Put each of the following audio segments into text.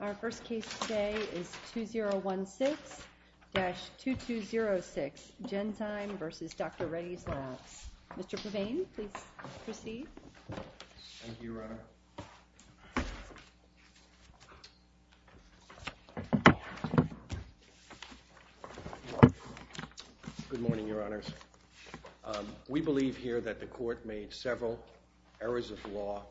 Our first case today is 2016-2206, Genzyme v. Dr. Reddy's Labs. Mr. Pervain, please proceed. Good morning, Your Honors. We believe here that the Court made several errors of law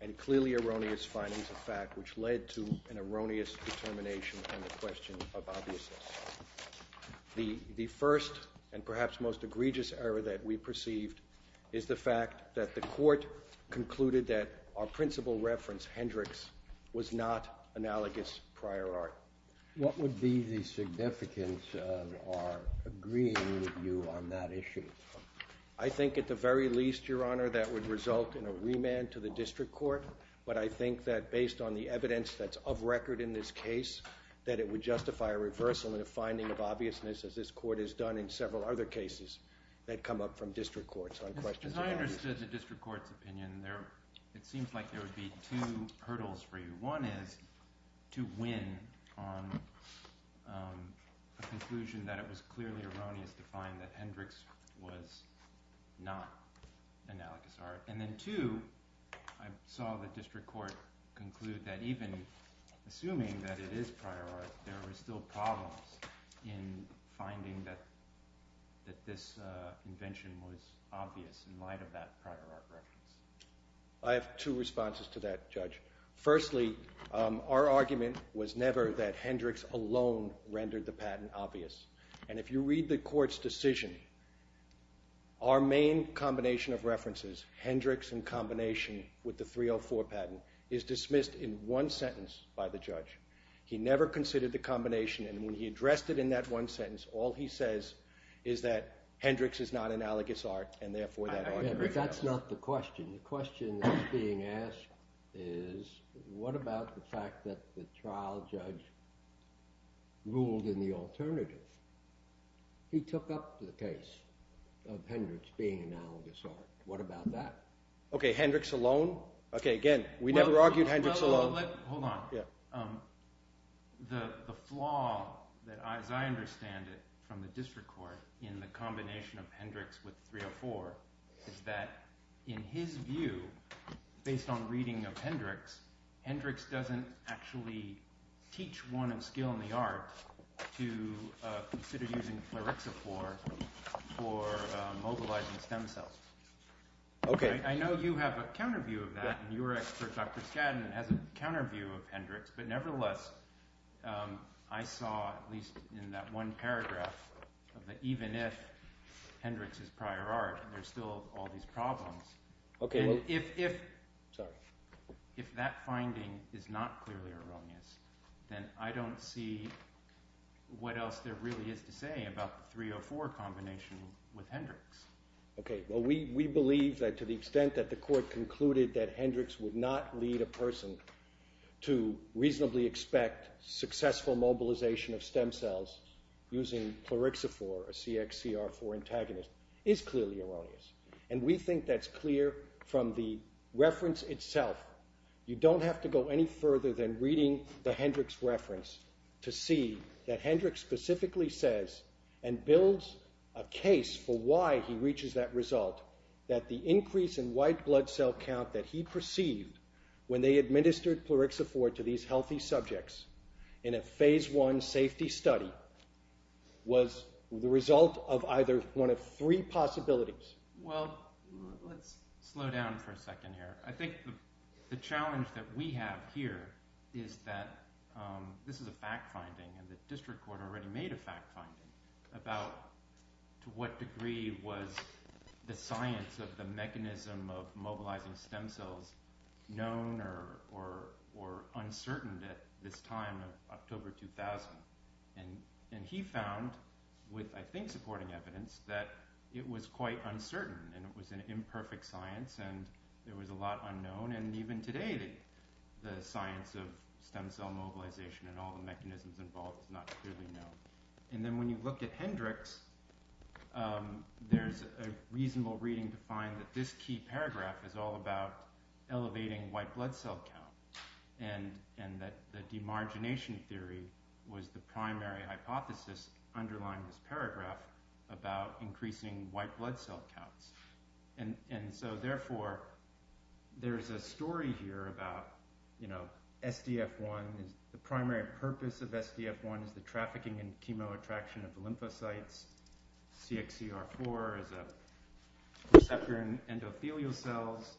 and clearly erroneous findings of fact, which led to an erroneous determination on the question of obviousness. The first and perhaps most egregious error that we perceived is the fact that the Court concluded that our principal reference, Hendricks, was not analogous prior art. What would be the significance of our agreeing with you on that issue? I think at the very least, Your Honor, that would result in a remand to the District Court, but I think that based on the evidence that's of record in this case, that it would justify a reversal in a finding of obviousness, as this Court has done in several other cases that come up from District Courts on questions of obviousness. As I understood the District Court's opinion, it seems like there would be two hurdles for you. One is to win on the conclusion that it was clearly erroneous to find that Hendricks was not analogous art. And then two, I saw the District Court conclude that even assuming that it is prior art, there were still problems in finding that this invention was obvious in light of that prior art reference. I have two responses to that, Judge. Firstly, our argument was never that Hendricks alone rendered the patent obvious. And if you read the Court's decision, our main combination of references, Hendricks in combination with the 304 patent, is dismissed in one sentence by the judge. He never considered the combination, and when he addressed it in that one sentence, all he says is that Hendricks is not analogous art, and therefore that argument fails. But that's not the question. The question that's being asked is, what about the fact that the trial judge ruled in the alternative? He took up the case of Hendricks being analogous art. What about that? Okay, Hendricks alone? Okay, again, we never argued Hendricks alone. Hold on. The flaw, as I understand it, from the District Court in the combination of Hendricks with 304, is that in his view, based on reading of Hendricks, Hendricks doesn't actually teach one in skill in the arts to consider using clarixophore for mobilizing stem cells. I know you have a counter view of that, and your expert, Dr. Skadden, has a counter view of Hendricks, but nevertheless, I saw, at least in that one paragraph, that even if Hendricks is prior art, there's still all these problems. If that finding is not clearly erroneous, then I don't see what else there really is to say about the 304 combination with Hendricks. Okay, well we believe that to the extent that the court concluded that Hendricks would not lead a person to reasonably expect successful mobilization of stem cells using clarixophore, a CXCR4 antagonist, is clearly erroneous. And we think that's clear from the reference itself. You don't have to go any further than reading the Hendricks reference to see that Hendricks specifically says, and builds a case for why he reaches that result, that the increase in white blood cell count that he perceived when they administered clarixophore to these healthy subjects in a phase one safety study was the result of either one of three possibilities. Well, let's slow down for a second here. I think the challenge that we have here is that this is a fact finding, and the district court already made a fact finding about to what degree was the science of the mechanism of mobilizing stem cells known or uncertain at this time of October 2000. And he found, with I think supporting evidence, that it was quite uncertain, and it was an imperfect science, and there was a lot unknown, and even today the science of stem cell mobilization and all the mechanisms involved is not clearly known. And then when you look at Hendricks, there's a reasonable reading to find that this key paragraph is all about elevating white blood cell count, and that the demargination theory was the primary hypothesis underlying this paragraph about increasing white blood cell counts. And so therefore, there's a story here about SDF1, the primary purpose of SDF1 is the trafficking and chemoattraction of lymphocytes, CXCR4 is a receptor in endothelial cells,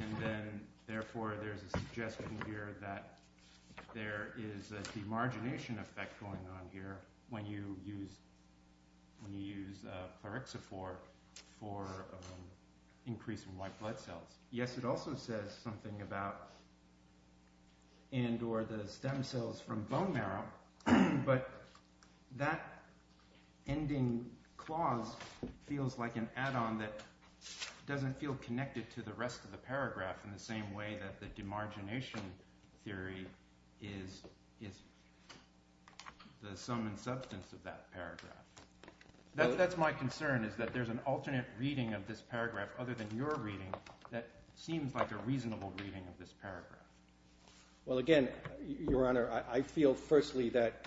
and then therefore there's a suggestion here that there is a demargination effect going on here when you use clorexifor for increasing white blood cells. Yes, it also says something about, and or the stem cells from bone marrow, but that ending clause feels like an add-on that doesn't feel connected to the rest of the paragraph in the same way that the demargination theory is the sum and substance of that paragraph. That's my concern, is that there's an alternate reading of this paragraph other than your reading that seems like a reasonable reading of this paragraph. Well again, your honor, I feel firstly that,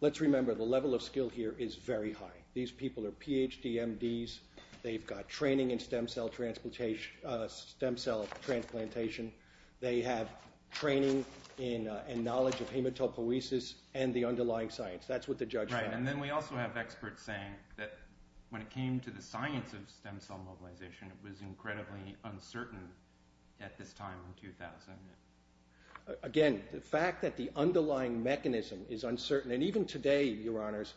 let's remember the level of skill here is very high. These people are PhD MDs, they've got training in stem cell transplantation, they have training and knowledge of hematopoiesis and the underlying science. That's what the judge said. Right, and then we also have experts saying that when it came to the science of stem cell mobilization it was incredibly uncertain at this time in 2000. Again, the fact that the underlying mechanism is uncertain, and even today, your honors,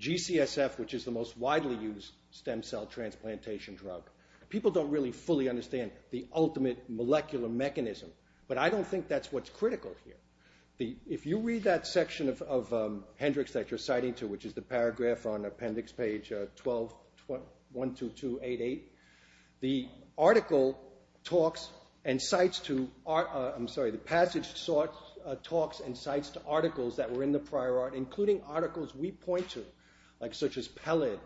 GCSF, which is the most widely used stem cell transplantation drug, people don't really fully understand the ultimate molecular mechanism, but I don't think that's what's critical here. If you read that section of Hendricks that you're citing to, which is the paragraph on appendix page 12-12288, the article talks and cites to, I'm sorry, the passage talks and cites to articles that were in the prior art, including articles we point to, such as PELID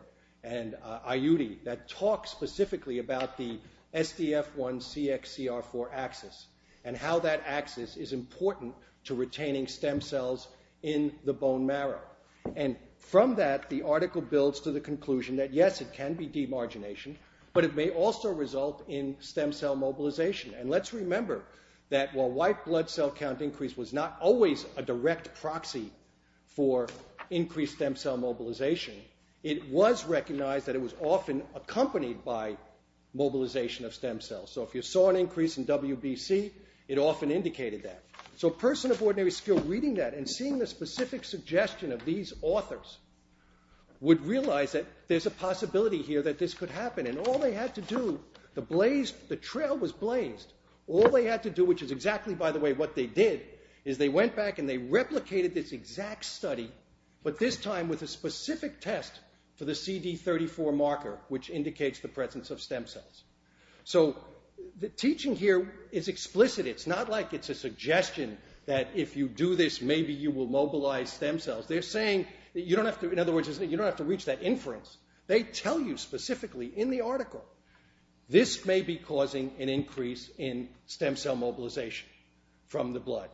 and IUD, that talk specifically about the SDF1CXCR4 axis and how that axis is important to retaining stem cells in the bone marrow. And from that, the article builds to the conclusion that, yes, it can be demargination, but it may also result in stem cell mobilization. And let's remember that while white blood cell count increase was not always a direct proxy for increased stem cell mobilization, it was recognized that it was often accompanied by mobilization of stem cells. So if you saw an increase in WBC, it often indicated that. So a person of ordinary skill reading that and seeing the specific suggestion of these authors would realize that there's a possibility here that this could happen. And all they had to do, the trail was blazed, all they had to do, which is exactly, by the way, what they did, is they went back and they replicated this exact study, but this time with a specific test for the CD34 marker, which indicates the presence of stem cells. So the teaching here is explicit. It's not like it's a suggestion that if you do this, maybe you will mobilize stem cells. They're saying that you don't have to, in other words, you don't have to reach that inference. They tell you specifically in the article, this may be causing an increase in stem cell mobilization from the blood.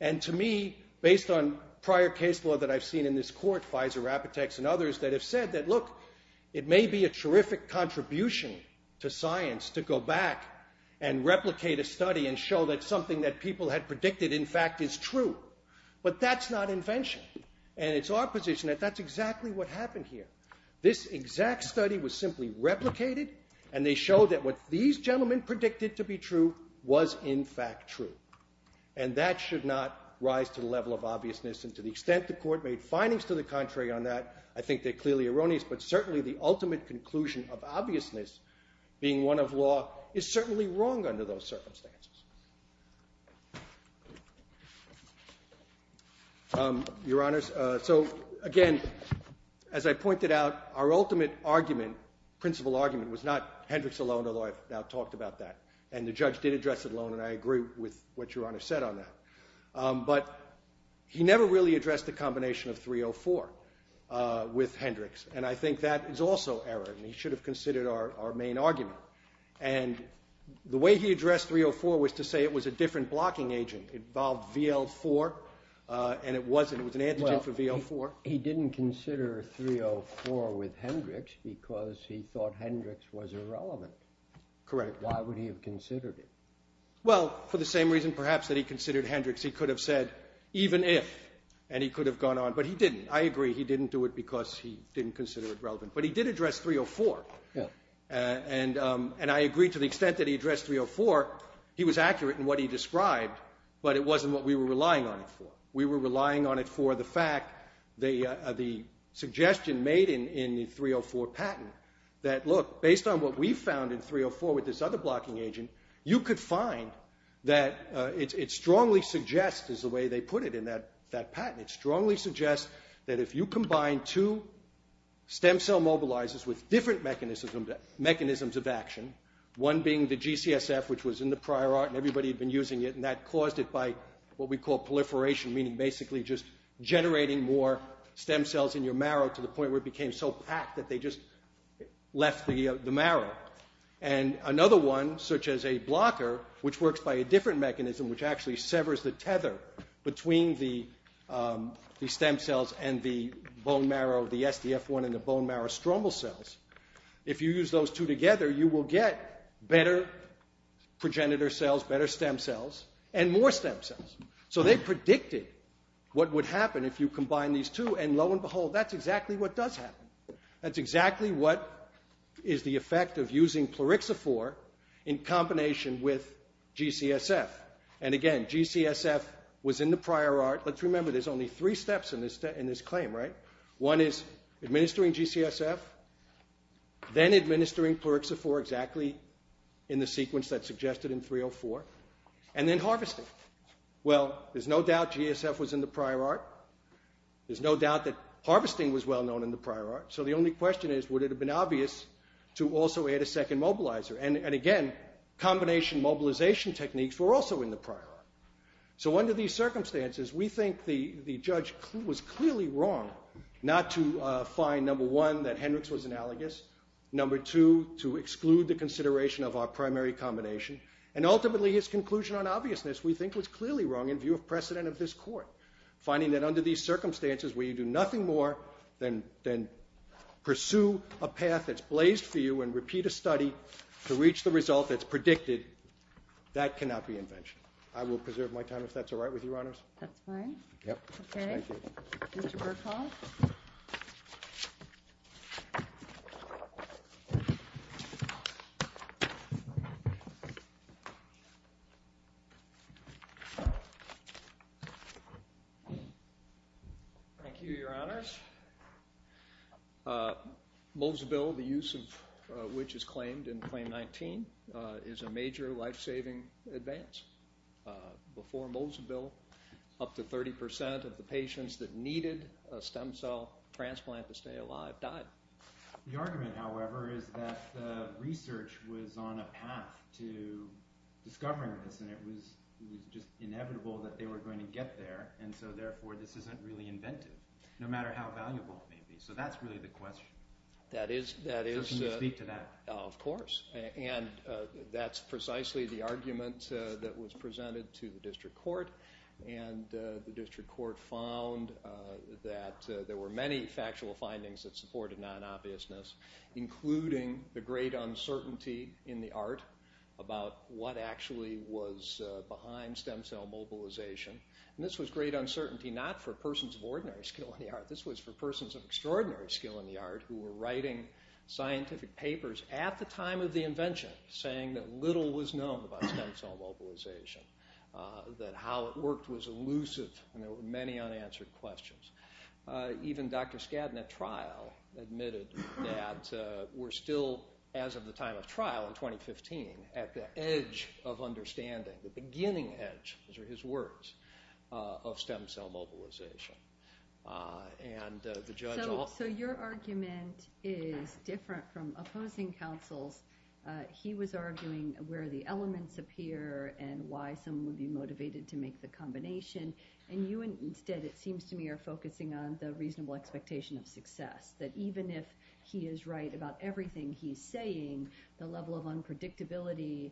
And to me, based on prior case law that I've seen in this court, Pfizer, Apotex, and others that have said that, look, it may be a terrific contribution to science to go back and replicate a study and show that something that people had predicted, in fact, is true. But that's not invention. And it's our position that that's exactly what happened here. This exact study was simply replicated, and they showed that what these gentlemen predicted to be true was, in fact, true. And that should not rise to the level of obviousness. And to the extent the court made findings to the contrary on that, I think they're clearly erroneous. But certainly the ultimate conclusion of obviousness being one of law is certainly wrong under those circumstances. Your Honors, so, again, as I pointed out, our ultimate argument, principal argument, was not Hendricks alone, although I've now talked about that, and the judge did address it alone, and I agree with what Your Honor said on that. But he never really addressed the combination of 304 with Hendricks. And I think that is also error, and he should have considered our main argument. And the way he addressed 304 was to say it was a different blocking agent. It involved VL4, and it wasn't. It was an antigen for VL4. Well, he didn't consider 304 with Hendricks because he thought Hendricks was irrelevant. Correct. Why would he have considered it? Well, for the same reason, perhaps, that he considered Hendricks. He could have said, even if, and he could have gone on. But he didn't. I agree he didn't do it because he didn't consider it relevant. But he did address 304. And I agree to the extent that he addressed 304, he was accurate in what he described, but it wasn't what we were relying on it for. We were relying on it for the fact, the suggestion made in the 304 patent, that, look, based on what we found in 304 with this other blocking agent, you could find that it strongly suggests, is the way they put it in that patent, it strongly suggests that if you combine two stem cell mobilizers with different mechanisms of action, one being the GCSF, which was in the prior art and everybody had been using it, and that caused it by what we call proliferation, meaning basically just generating more stem cells in your marrow to the point where it became so packed that they just left the marrow. And another one, such as a blocker, which works by a different mechanism, which actually severs the tether between the stem cells and the bone marrow, the SDF1 and the bone marrow stromal cells, if you use those two together, you will get better progenitor cells, better stem cells, and more stem cells. So they predicted what would happen if you combine these two, and lo and behold, that's exactly what does happen. That's exactly what is the effect of using Plerixifor in combination with GCSF. And again, GCSF was in the prior art. Let's remember, there's only three steps in this claim, right? One is administering GCSF, then administering Plerixifor exactly in the sequence that's suggested in 304, and then harvesting. Well, there's no doubt GSF was in the prior art. There's no doubt that harvesting was well known in the prior art. So the only question is, would it have been obvious to also add a second mobilizer? And again, combination mobilization techniques were also in the prior art. So under these circumstances, we think the judge was clearly wrong not to find, number one, that Hendricks was analogous, number two, to exclude the consideration of our primary combination, and ultimately his conclusion on obviousness we think was clearly wrong in view of precedent of this court, finding that under these circumstances where you do nothing more than pursue a path that's blazed for you and repeat a study to reach the result that's predicted, that cannot be invention. I will preserve my time if that's all right with you, Your Honors. That's fine. Yep. Okay. Thank you. Mr. Berkoff? Thank you, Your Honors. Molesville, the use of which is claimed in Claim 19, is a major life-saving advance. Before Molesville, up to 30% of the patients that needed a stem cell transplant to stay alive died. The argument, however, is that the research was on a path to discovering this, and it was just inevitable that they were going to get there, and so therefore this isn't really inventive, no matter how valuable it may be. So that's really the question. So can you speak to that? Of course. And that's precisely the argument that was presented to the district court, and the district court found that there were many factual findings that supported non-obviousness, including the great uncertainty in the art about what actually was behind stem cell mobilization. And this was great uncertainty not for persons of ordinary skill in the art. This was for persons of extraordinary skill in the art who were writing scientific papers at the time of the invention, saying that little was known about stem cell mobilization, that how it worked was elusive, and there were many unanswered questions. Even Dr. Skadden at trial admitted that we're still, as of the time of trial in 2015, at the edge of understanding, the beginning edge, those are his words, of stem cell mobilization. So your argument is different from opposing counsel's. He was arguing where the elements appear and why someone would be motivated to make the combination, and you instead, it seems to me, are focusing on the reasonable expectation of success, that even if he is right about everything he's saying, the level of unpredictability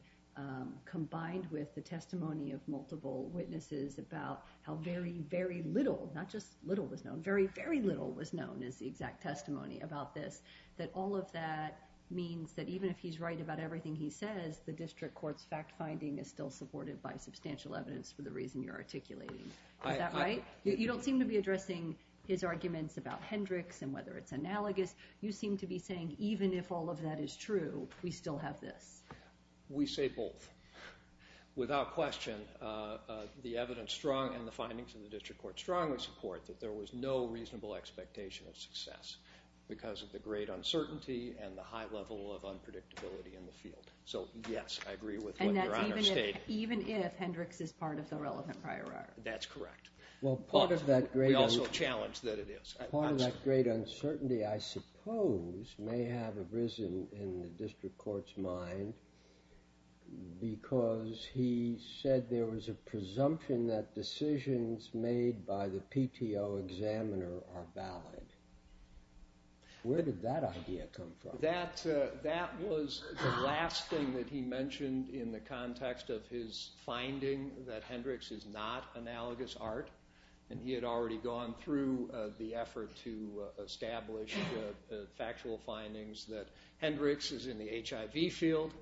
combined with the testimony of multiple witnesses about how very, very little, not just little was known, very, very little was known as the exact testimony about this, that all of that means that even if he's right about everything he says, the district court's fact-finding is still supported by substantial evidence for the reason you're articulating. Is that right? You don't seem to be addressing his arguments about Hendricks and whether it's analogous. You seem to be saying even if all of that is true, we still have this. We say both. Without question, the evidence and the findings in the district court strongly support that there was no reasonable expectation of success because of the great uncertainty and the high level of unpredictability in the field. So, yes, I agree with what Your Honor stated. And that's even if Hendricks is part of the relevant prior art. That's correct. But we also challenge that it is. Part of that great uncertainty, I suppose, may have arisen in the district court's mind because he said there was a presumption that decisions made by the PTO examiner are valid. Where did that idea come from? That was the last thing that he mentioned in the context of his finding that Hendricks is not analogous art. And he had already gone through the effort to establish the factual findings that Hendricks is in the HIV field,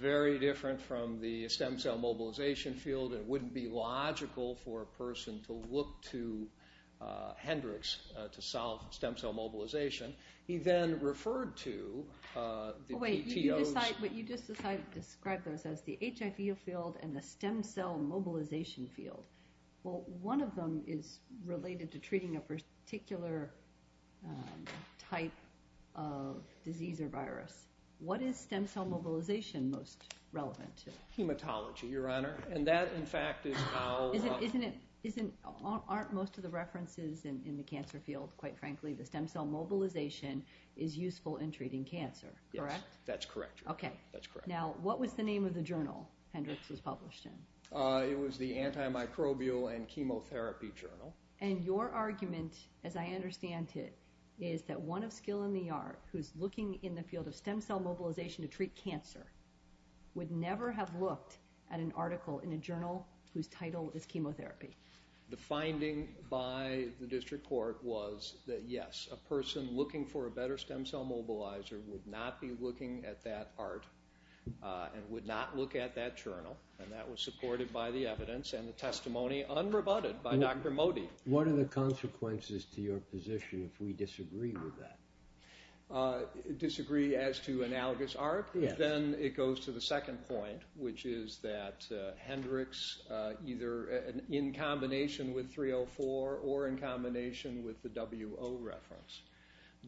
very different from the stem cell mobilization field. It wouldn't be logical for a person to look to Hendricks to solve stem cell mobilization. He then referred to the PTOs. But you just described those as the HIV field and the stem cell mobilization field. Well, one of them is related to treating a particular type of disease or virus. What is stem cell mobilization most relevant to? Hematology, Your Honor, and that, in fact, is how— Aren't most of the references in the cancer field, quite frankly, the stem cell mobilization is useful in treating cancer, correct? That's correct, Your Honor. Okay. Now, what was the name of the journal Hendricks was published in? It was the Antimicrobial and Chemotherapy Journal. And your argument, as I understand it, is that one of skill in the art who's looking in the field of stem cell mobilization to treat cancer would never have looked at an article in a journal whose title is chemotherapy. The finding by the district court was that, yes, a person looking for a better stem cell mobilizer would not be looking at that art and would not look at that journal, and that was supported by the evidence and the testimony unrebutted by Dr. Modi. What are the consequences to your position if we disagree with that? Disagree as to analogous art? Yes. Then it goes to the second point, which is that Hendricks, either in combination with 304 or in combination with the WO reference,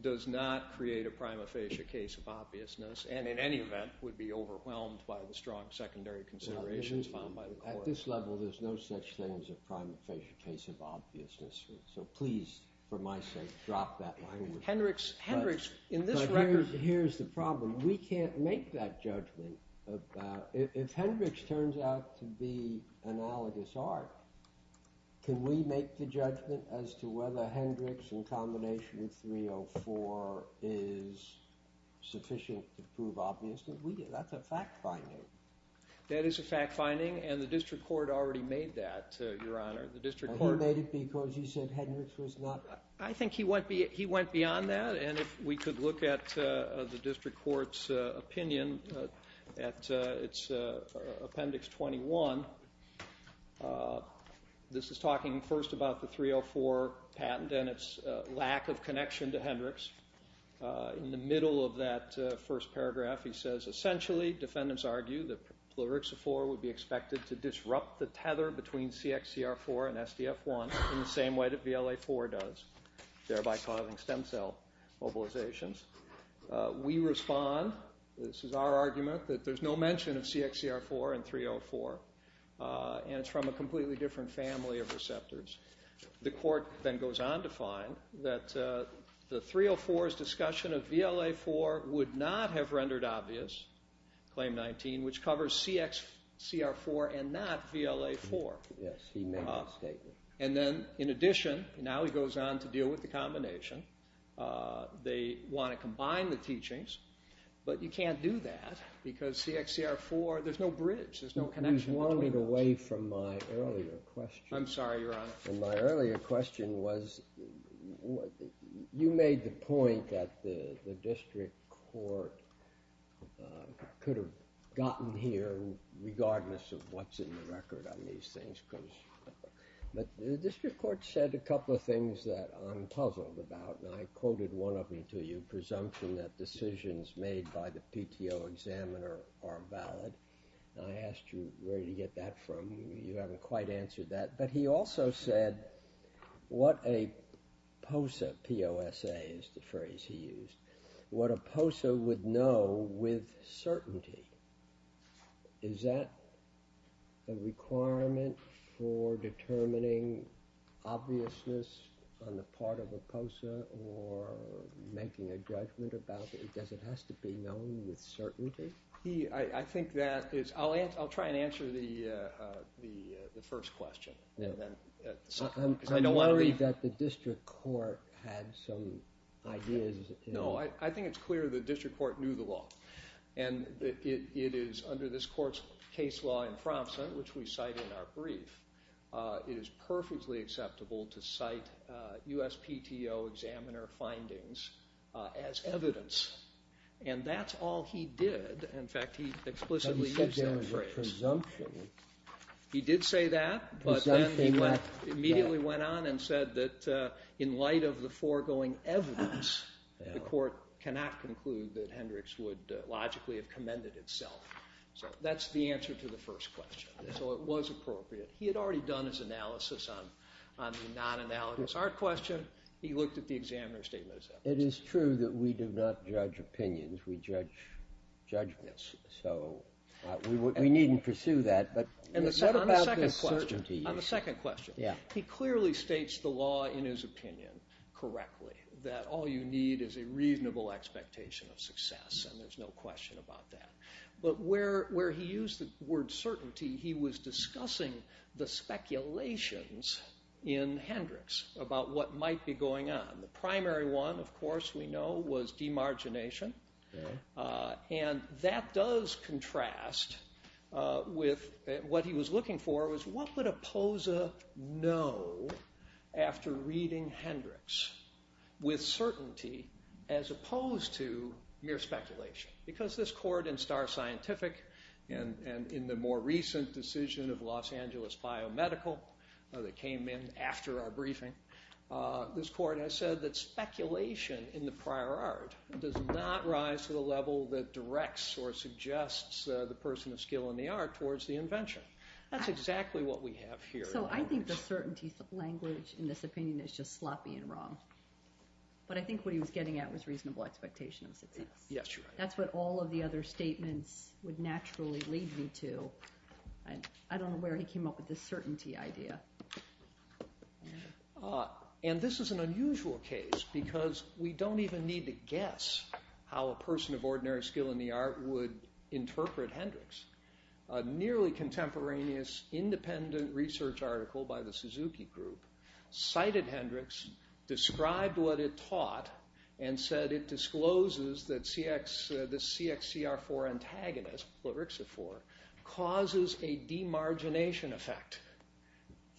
does not create a prima facie case of obviousness and in any event would be overwhelmed by the strong secondary considerations found by the court. At this level, there's no such thing as a prima facie case of obviousness. So please, for my sake, drop that line. Hendricks, in this record. Here's the problem. We can't make that judgment. If Hendricks turns out to be analogous art, can we make the judgment as to whether Hendricks, in combination with 304, is sufficient to prove obviousness? That's a fact-finding. That is a fact-finding, and the district court already made that, Your Honor. The district court made it because you said Hendricks was not. I think he went beyond that, and if we could look at the district court's opinion at its Appendix 21, this is talking first about the 304 patent and its lack of connection to Hendricks. In the middle of that first paragraph, he says, Essentially, defendants argue, that Plurixafor would be expected to disrupt the tether between CXCR4 and SDF1 in the same way that VLA-4 does, thereby causing stem cell mobilizations. We respond, this is our argument, that there's no mention of CXCR4 and 304, and it's from a completely different family of receptors. The court then goes on to find that the 304's discussion of VLA-4 would not have rendered obvious Claim 19, which covers CXCR4 and not VLA-4. Yes, he made the statement. And then, in addition, now he goes on to deal with the combination. They want to combine the teachings, but you can't do that, because CXCR4, there's no bridge, there's no connection. You've wandered away from my earlier question. I'm sorry, Your Honor. My earlier question was, you made the point that the district court could have gotten here regardless of what's in the record on these things. But the district court said a couple of things that I'm puzzled about, and I quoted one of them to you, presumption that decisions made by the PTO examiner are valid. I asked you where you get that from. You haven't quite answered that. But he also said, what a POSA, P-O-S-A is the phrase he used, what a POSA would know with certainty. Is that a requirement for determining obviousness on the part of a POSA or making a judgment about it? Does it have to be known with certainty? I think that is – I'll try and answer the first question. I'm worried that the district court had some ideas. No, I think it's clear the district court knew the law. And it is, under this court's case law in Fronson, which we cite in our brief, it is perfectly acceptable to cite USPTO examiner findings as evidence. And that's all he did. In fact, he explicitly used that phrase. But he said there was a presumption. He did say that, but then he immediately went on and said that in light of the foregoing evidence, the court cannot conclude that Hendricks would logically have commended itself. So that's the answer to the first question. So it was appropriate. He had already done his analysis on the non-analogous art question. He looked at the examiner's statement as evidence. It is true that we do not judge opinions. We judge judgments. So we needn't pursue that. On the second question, he clearly states the law in his opinion correctly, that all you need is a reasonable expectation of success, and there's no question about that. But where he used the word certainty, he was discussing the speculations in Hendricks about what might be going on. The primary one, of course, we know, was demargination. And that does contrast with what he was looking for, was what would a poser know after reading Hendricks with certainty as opposed to mere speculation? Because this court in Star Scientific and in the more recent decision of Los Angeles Biomedical that came in after our briefing, this court has said that speculation in the prior art does not rise to the level that directs or suggests the person of skill in the art towards the invention. That's exactly what we have here. So I think the certainty language in this opinion is just sloppy and wrong. But I think what he was getting at was reasonable expectation of success. That's what all of the other statements would naturally lead me to. I don't know where he came up with this certainty idea. And this is an unusual case because we don't even need to guess how a person of ordinary skill in the art would interpret Hendricks. A nearly contemporaneous independent research article by the Suzuki Group cited Hendricks, described what it taught, and said it discloses that the CXCR4 antagonist, Pleryxifor, causes a demargination effect.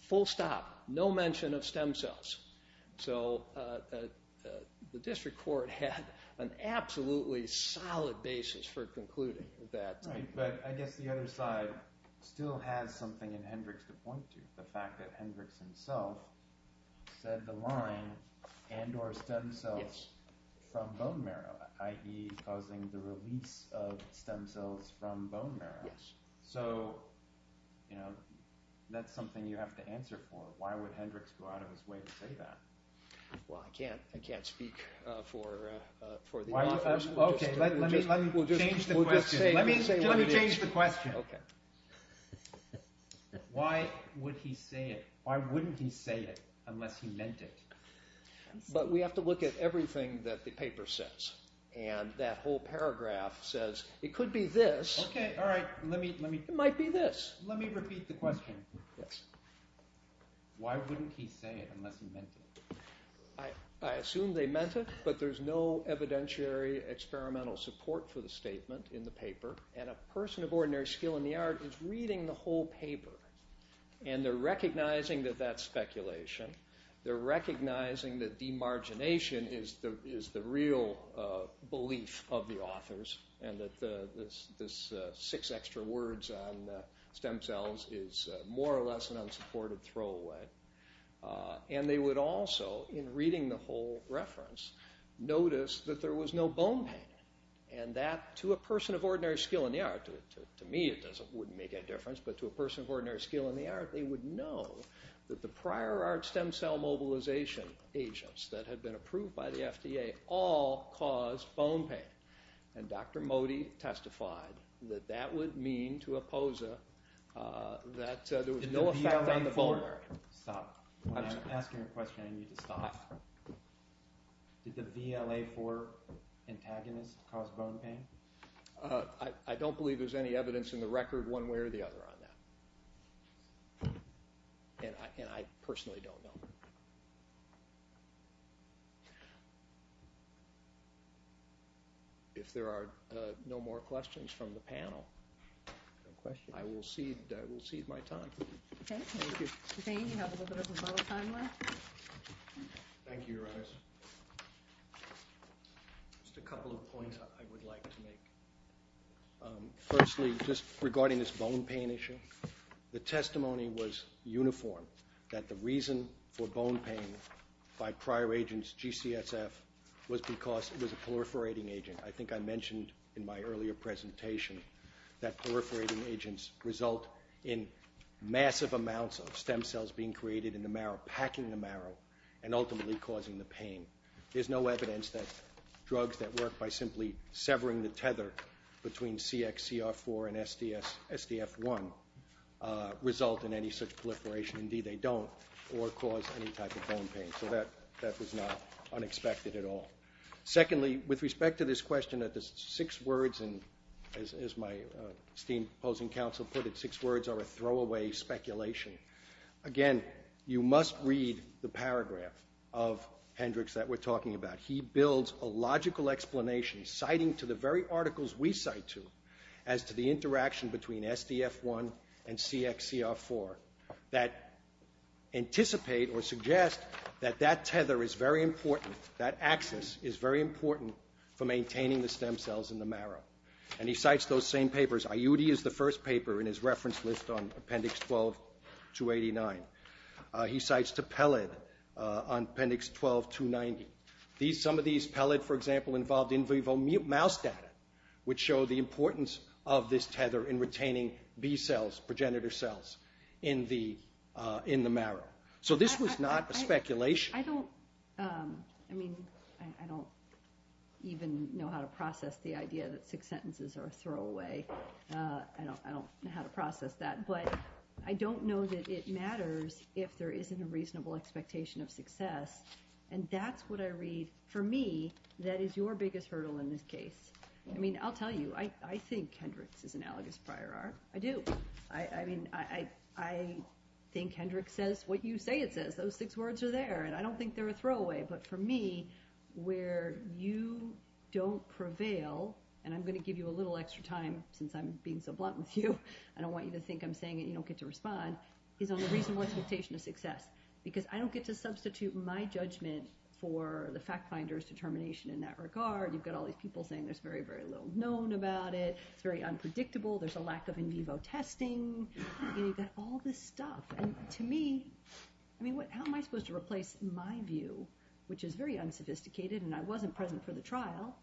Full stop. No mention of stem cells. So the district court had an absolutely solid basis for concluding that. But I guess the other side still has something in Hendricks to point to. The fact that Hendricks himself said the line, and or stem cells from bone marrow, i.e. causing the release of stem cells from bone marrow. So that's something you have to answer for. Why would Hendricks go out of his way to say that? Well, I can't speak for the law enforcement. Let me change the question. Why would he say it? Why wouldn't he say it unless he meant it? But we have to look at everything that the paper says. And that whole paragraph says, it could be this. It might be this. Let me repeat the question. Why wouldn't he say it unless he meant it? I assume they meant it, but there's no evidentiary experimental support for the statement in the paper. And a person of ordinary skill in the art is reading the whole paper. And they're recognizing that that's speculation. They're recognizing that demargination is the real belief of the authors, and that this six extra words on stem cells is more or less an unsupported throwaway. And they would also, in reading the whole reference, notice that there was no bone pain. And that, to a person of ordinary skill in the art, to me it wouldn't make a difference, but to a person of ordinary skill in the art, they would know that the prior art stem cell mobilization agents that had been approved by the FDA all caused bone pain. And Dr. Modi testified that that would mean to a POSA that there was no effect on the bone. Stop. When I'm asking a question, I need to stop. Did the VLA-4 antagonist cause bone pain? I don't believe there's any evidence in the record one way or the other on that. And I personally don't know. If there are no more questions from the panel, I will cede my time. Okay. Thank you. You have a little bit of a bottle of time left. Thank you, Your Honors. Just a couple of points I would like to make. Firstly, just regarding this bone pain issue, the testimony was uniform, that the reason for bone pain by prior agents, GCSF, was because it was a proliferating agent. I think I mentioned in my earlier presentation that proliferating agents result in massive amounts of stem cells being created in the marrow, packing the marrow, and ultimately causing the pain. There's no evidence that drugs that work by simply severing the tether between CXCR4 and SDF1 result in any such proliferation. Indeed, they don't, or cause any type of bone pain. So that was not unexpected at all. Secondly, with respect to this question that the six words, as my esteemed opposing counsel put it, six words are a throwaway speculation. Again, you must read the paragraph of Hendricks that we're talking about. He builds a logical explanation citing to the very articles we cite to as to the interaction between SDF1 and CXCR4 that anticipate or suggest that that tether is very important, that axis is very important for maintaining the stem cells in the marrow. And he cites those same papers. IUD is the first paper in his reference list on Appendix 12-289. He cites to PELID on Appendix 12-290. Some of these PELID, for example, involved in vivo mouse data, which show the importance of this tether in retaining B cells, progenitor cells, in the marrow. So this was not a speculation. I don't even know how to process the idea that six sentences are a throwaway. I don't know how to process that. But I don't know that it matters if there isn't a reasonable expectation of success. And that's what I read. For me, that is your biggest hurdle in this case. I mean, I'll tell you, I think Hendricks is analogous prior art. I do. I mean, I think Hendricks says what you say it says. Those six words are there, and I don't think they're a throwaway. But for me, where you don't prevail, and I'm going to give you a little extra time since I'm being so blunt with you, I don't want you to think I'm saying it and you don't get to respond, is on the reasonable expectation of success because I don't get to substitute my judgment for the fact finder's determination in that regard. You've got all these people saying there's very, very little known about it. It's very unpredictable. There's a lack of in vivo testing. You've got all this stuff. And to me, I mean, how am I supposed to replace my view, which is very unsophisticated and I wasn't present for the trial,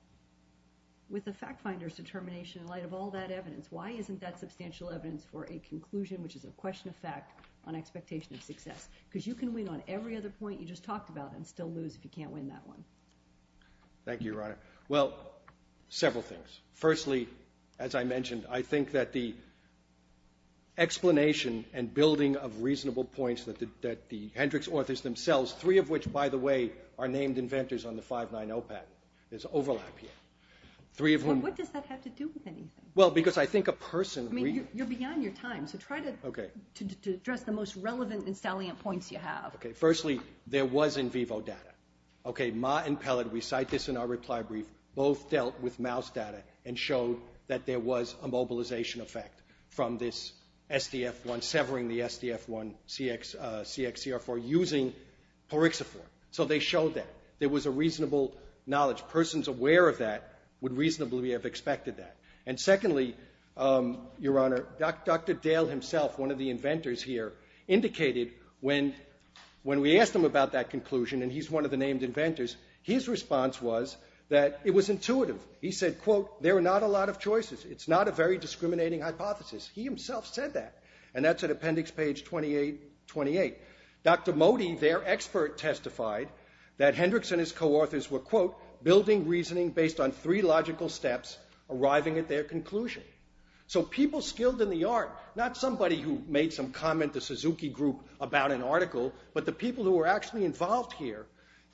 with the fact finder's determination in light of all that evidence? Why isn't that substantial evidence for a conclusion, which is a question of fact on expectation of success? Because you can win on every other point you just talked about and still lose if you can't win that one. Thank you, Your Honor. Well, several things. Firstly, as I mentioned, I think that the explanation and building of reasonable points that the Hendricks authors themselves, three of which, by the way, are named inventors on the 590 patent. There's overlap here. What does that have to do with anything? Well, because I think a person... I mean, you're beyond your time, so try to address the most relevant and salient points you have. Okay, firstly, there was in vivo data. Okay, Ma and Pellet, we cite this in our reply brief, both dealt with mouse data and showed that there was a mobilization effect from this SDF-1, severing the SDF-1 CXCR4 using poryxophore. So they showed that. There was a reasonable knowledge. Persons aware of that would reasonably have expected that. And secondly, Your Honor, Dr. Dale himself, one of the inventors here, indicated when we asked him about that conclusion, and he's one of the named inventors, his response was that it was intuitive. He said, quote, There are not a lot of choices. It's not a very discriminating hypothesis. He himself said that. And that's at appendix page 2828. Dr. Modi, their expert, testified that Hendricks and his co-authors were, quote, building reasoning based on three logical steps arriving at their conclusion. So people skilled in the art, not somebody who made some comment to Suzuki Group about an article, but the people who were actually involved here,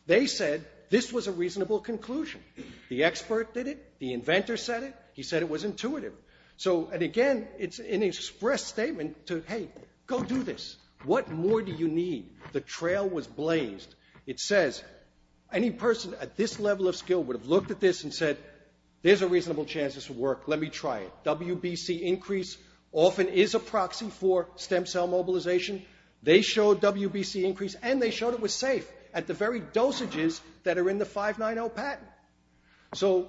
they said this was a reasonable conclusion. The expert did it. The inventor said it. He said it was intuitive. So, and again, it's an express statement to, hey, go do this. What more do you need? The trail was blazed. It says any person at this level of skill would have looked at this and said, there's a reasonable chance this will work. Let me try it. WBC increase often is a proxy for stem cell mobilization. They showed WBC increase, and they showed it was safe at the very dosages that are in the 590 patent. So,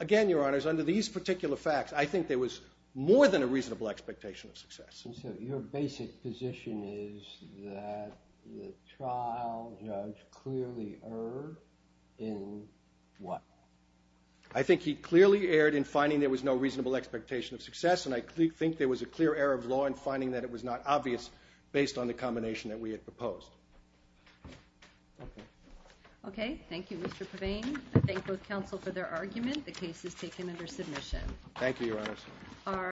again, Your Honors, under these particular facts, I think there was more than a reasonable expectation of success. And so your basic position is that the trial judge clearly erred in what? I think he clearly erred in finding there was no reasonable expectation of success, and I think there was a clear error of law in finding that it was not obvious based on the combination that we had proposed. Okay. Thank you, Mr. Pavane. I thank both counsel for their argument. The case is taken under submission. Thank you, Your Honors.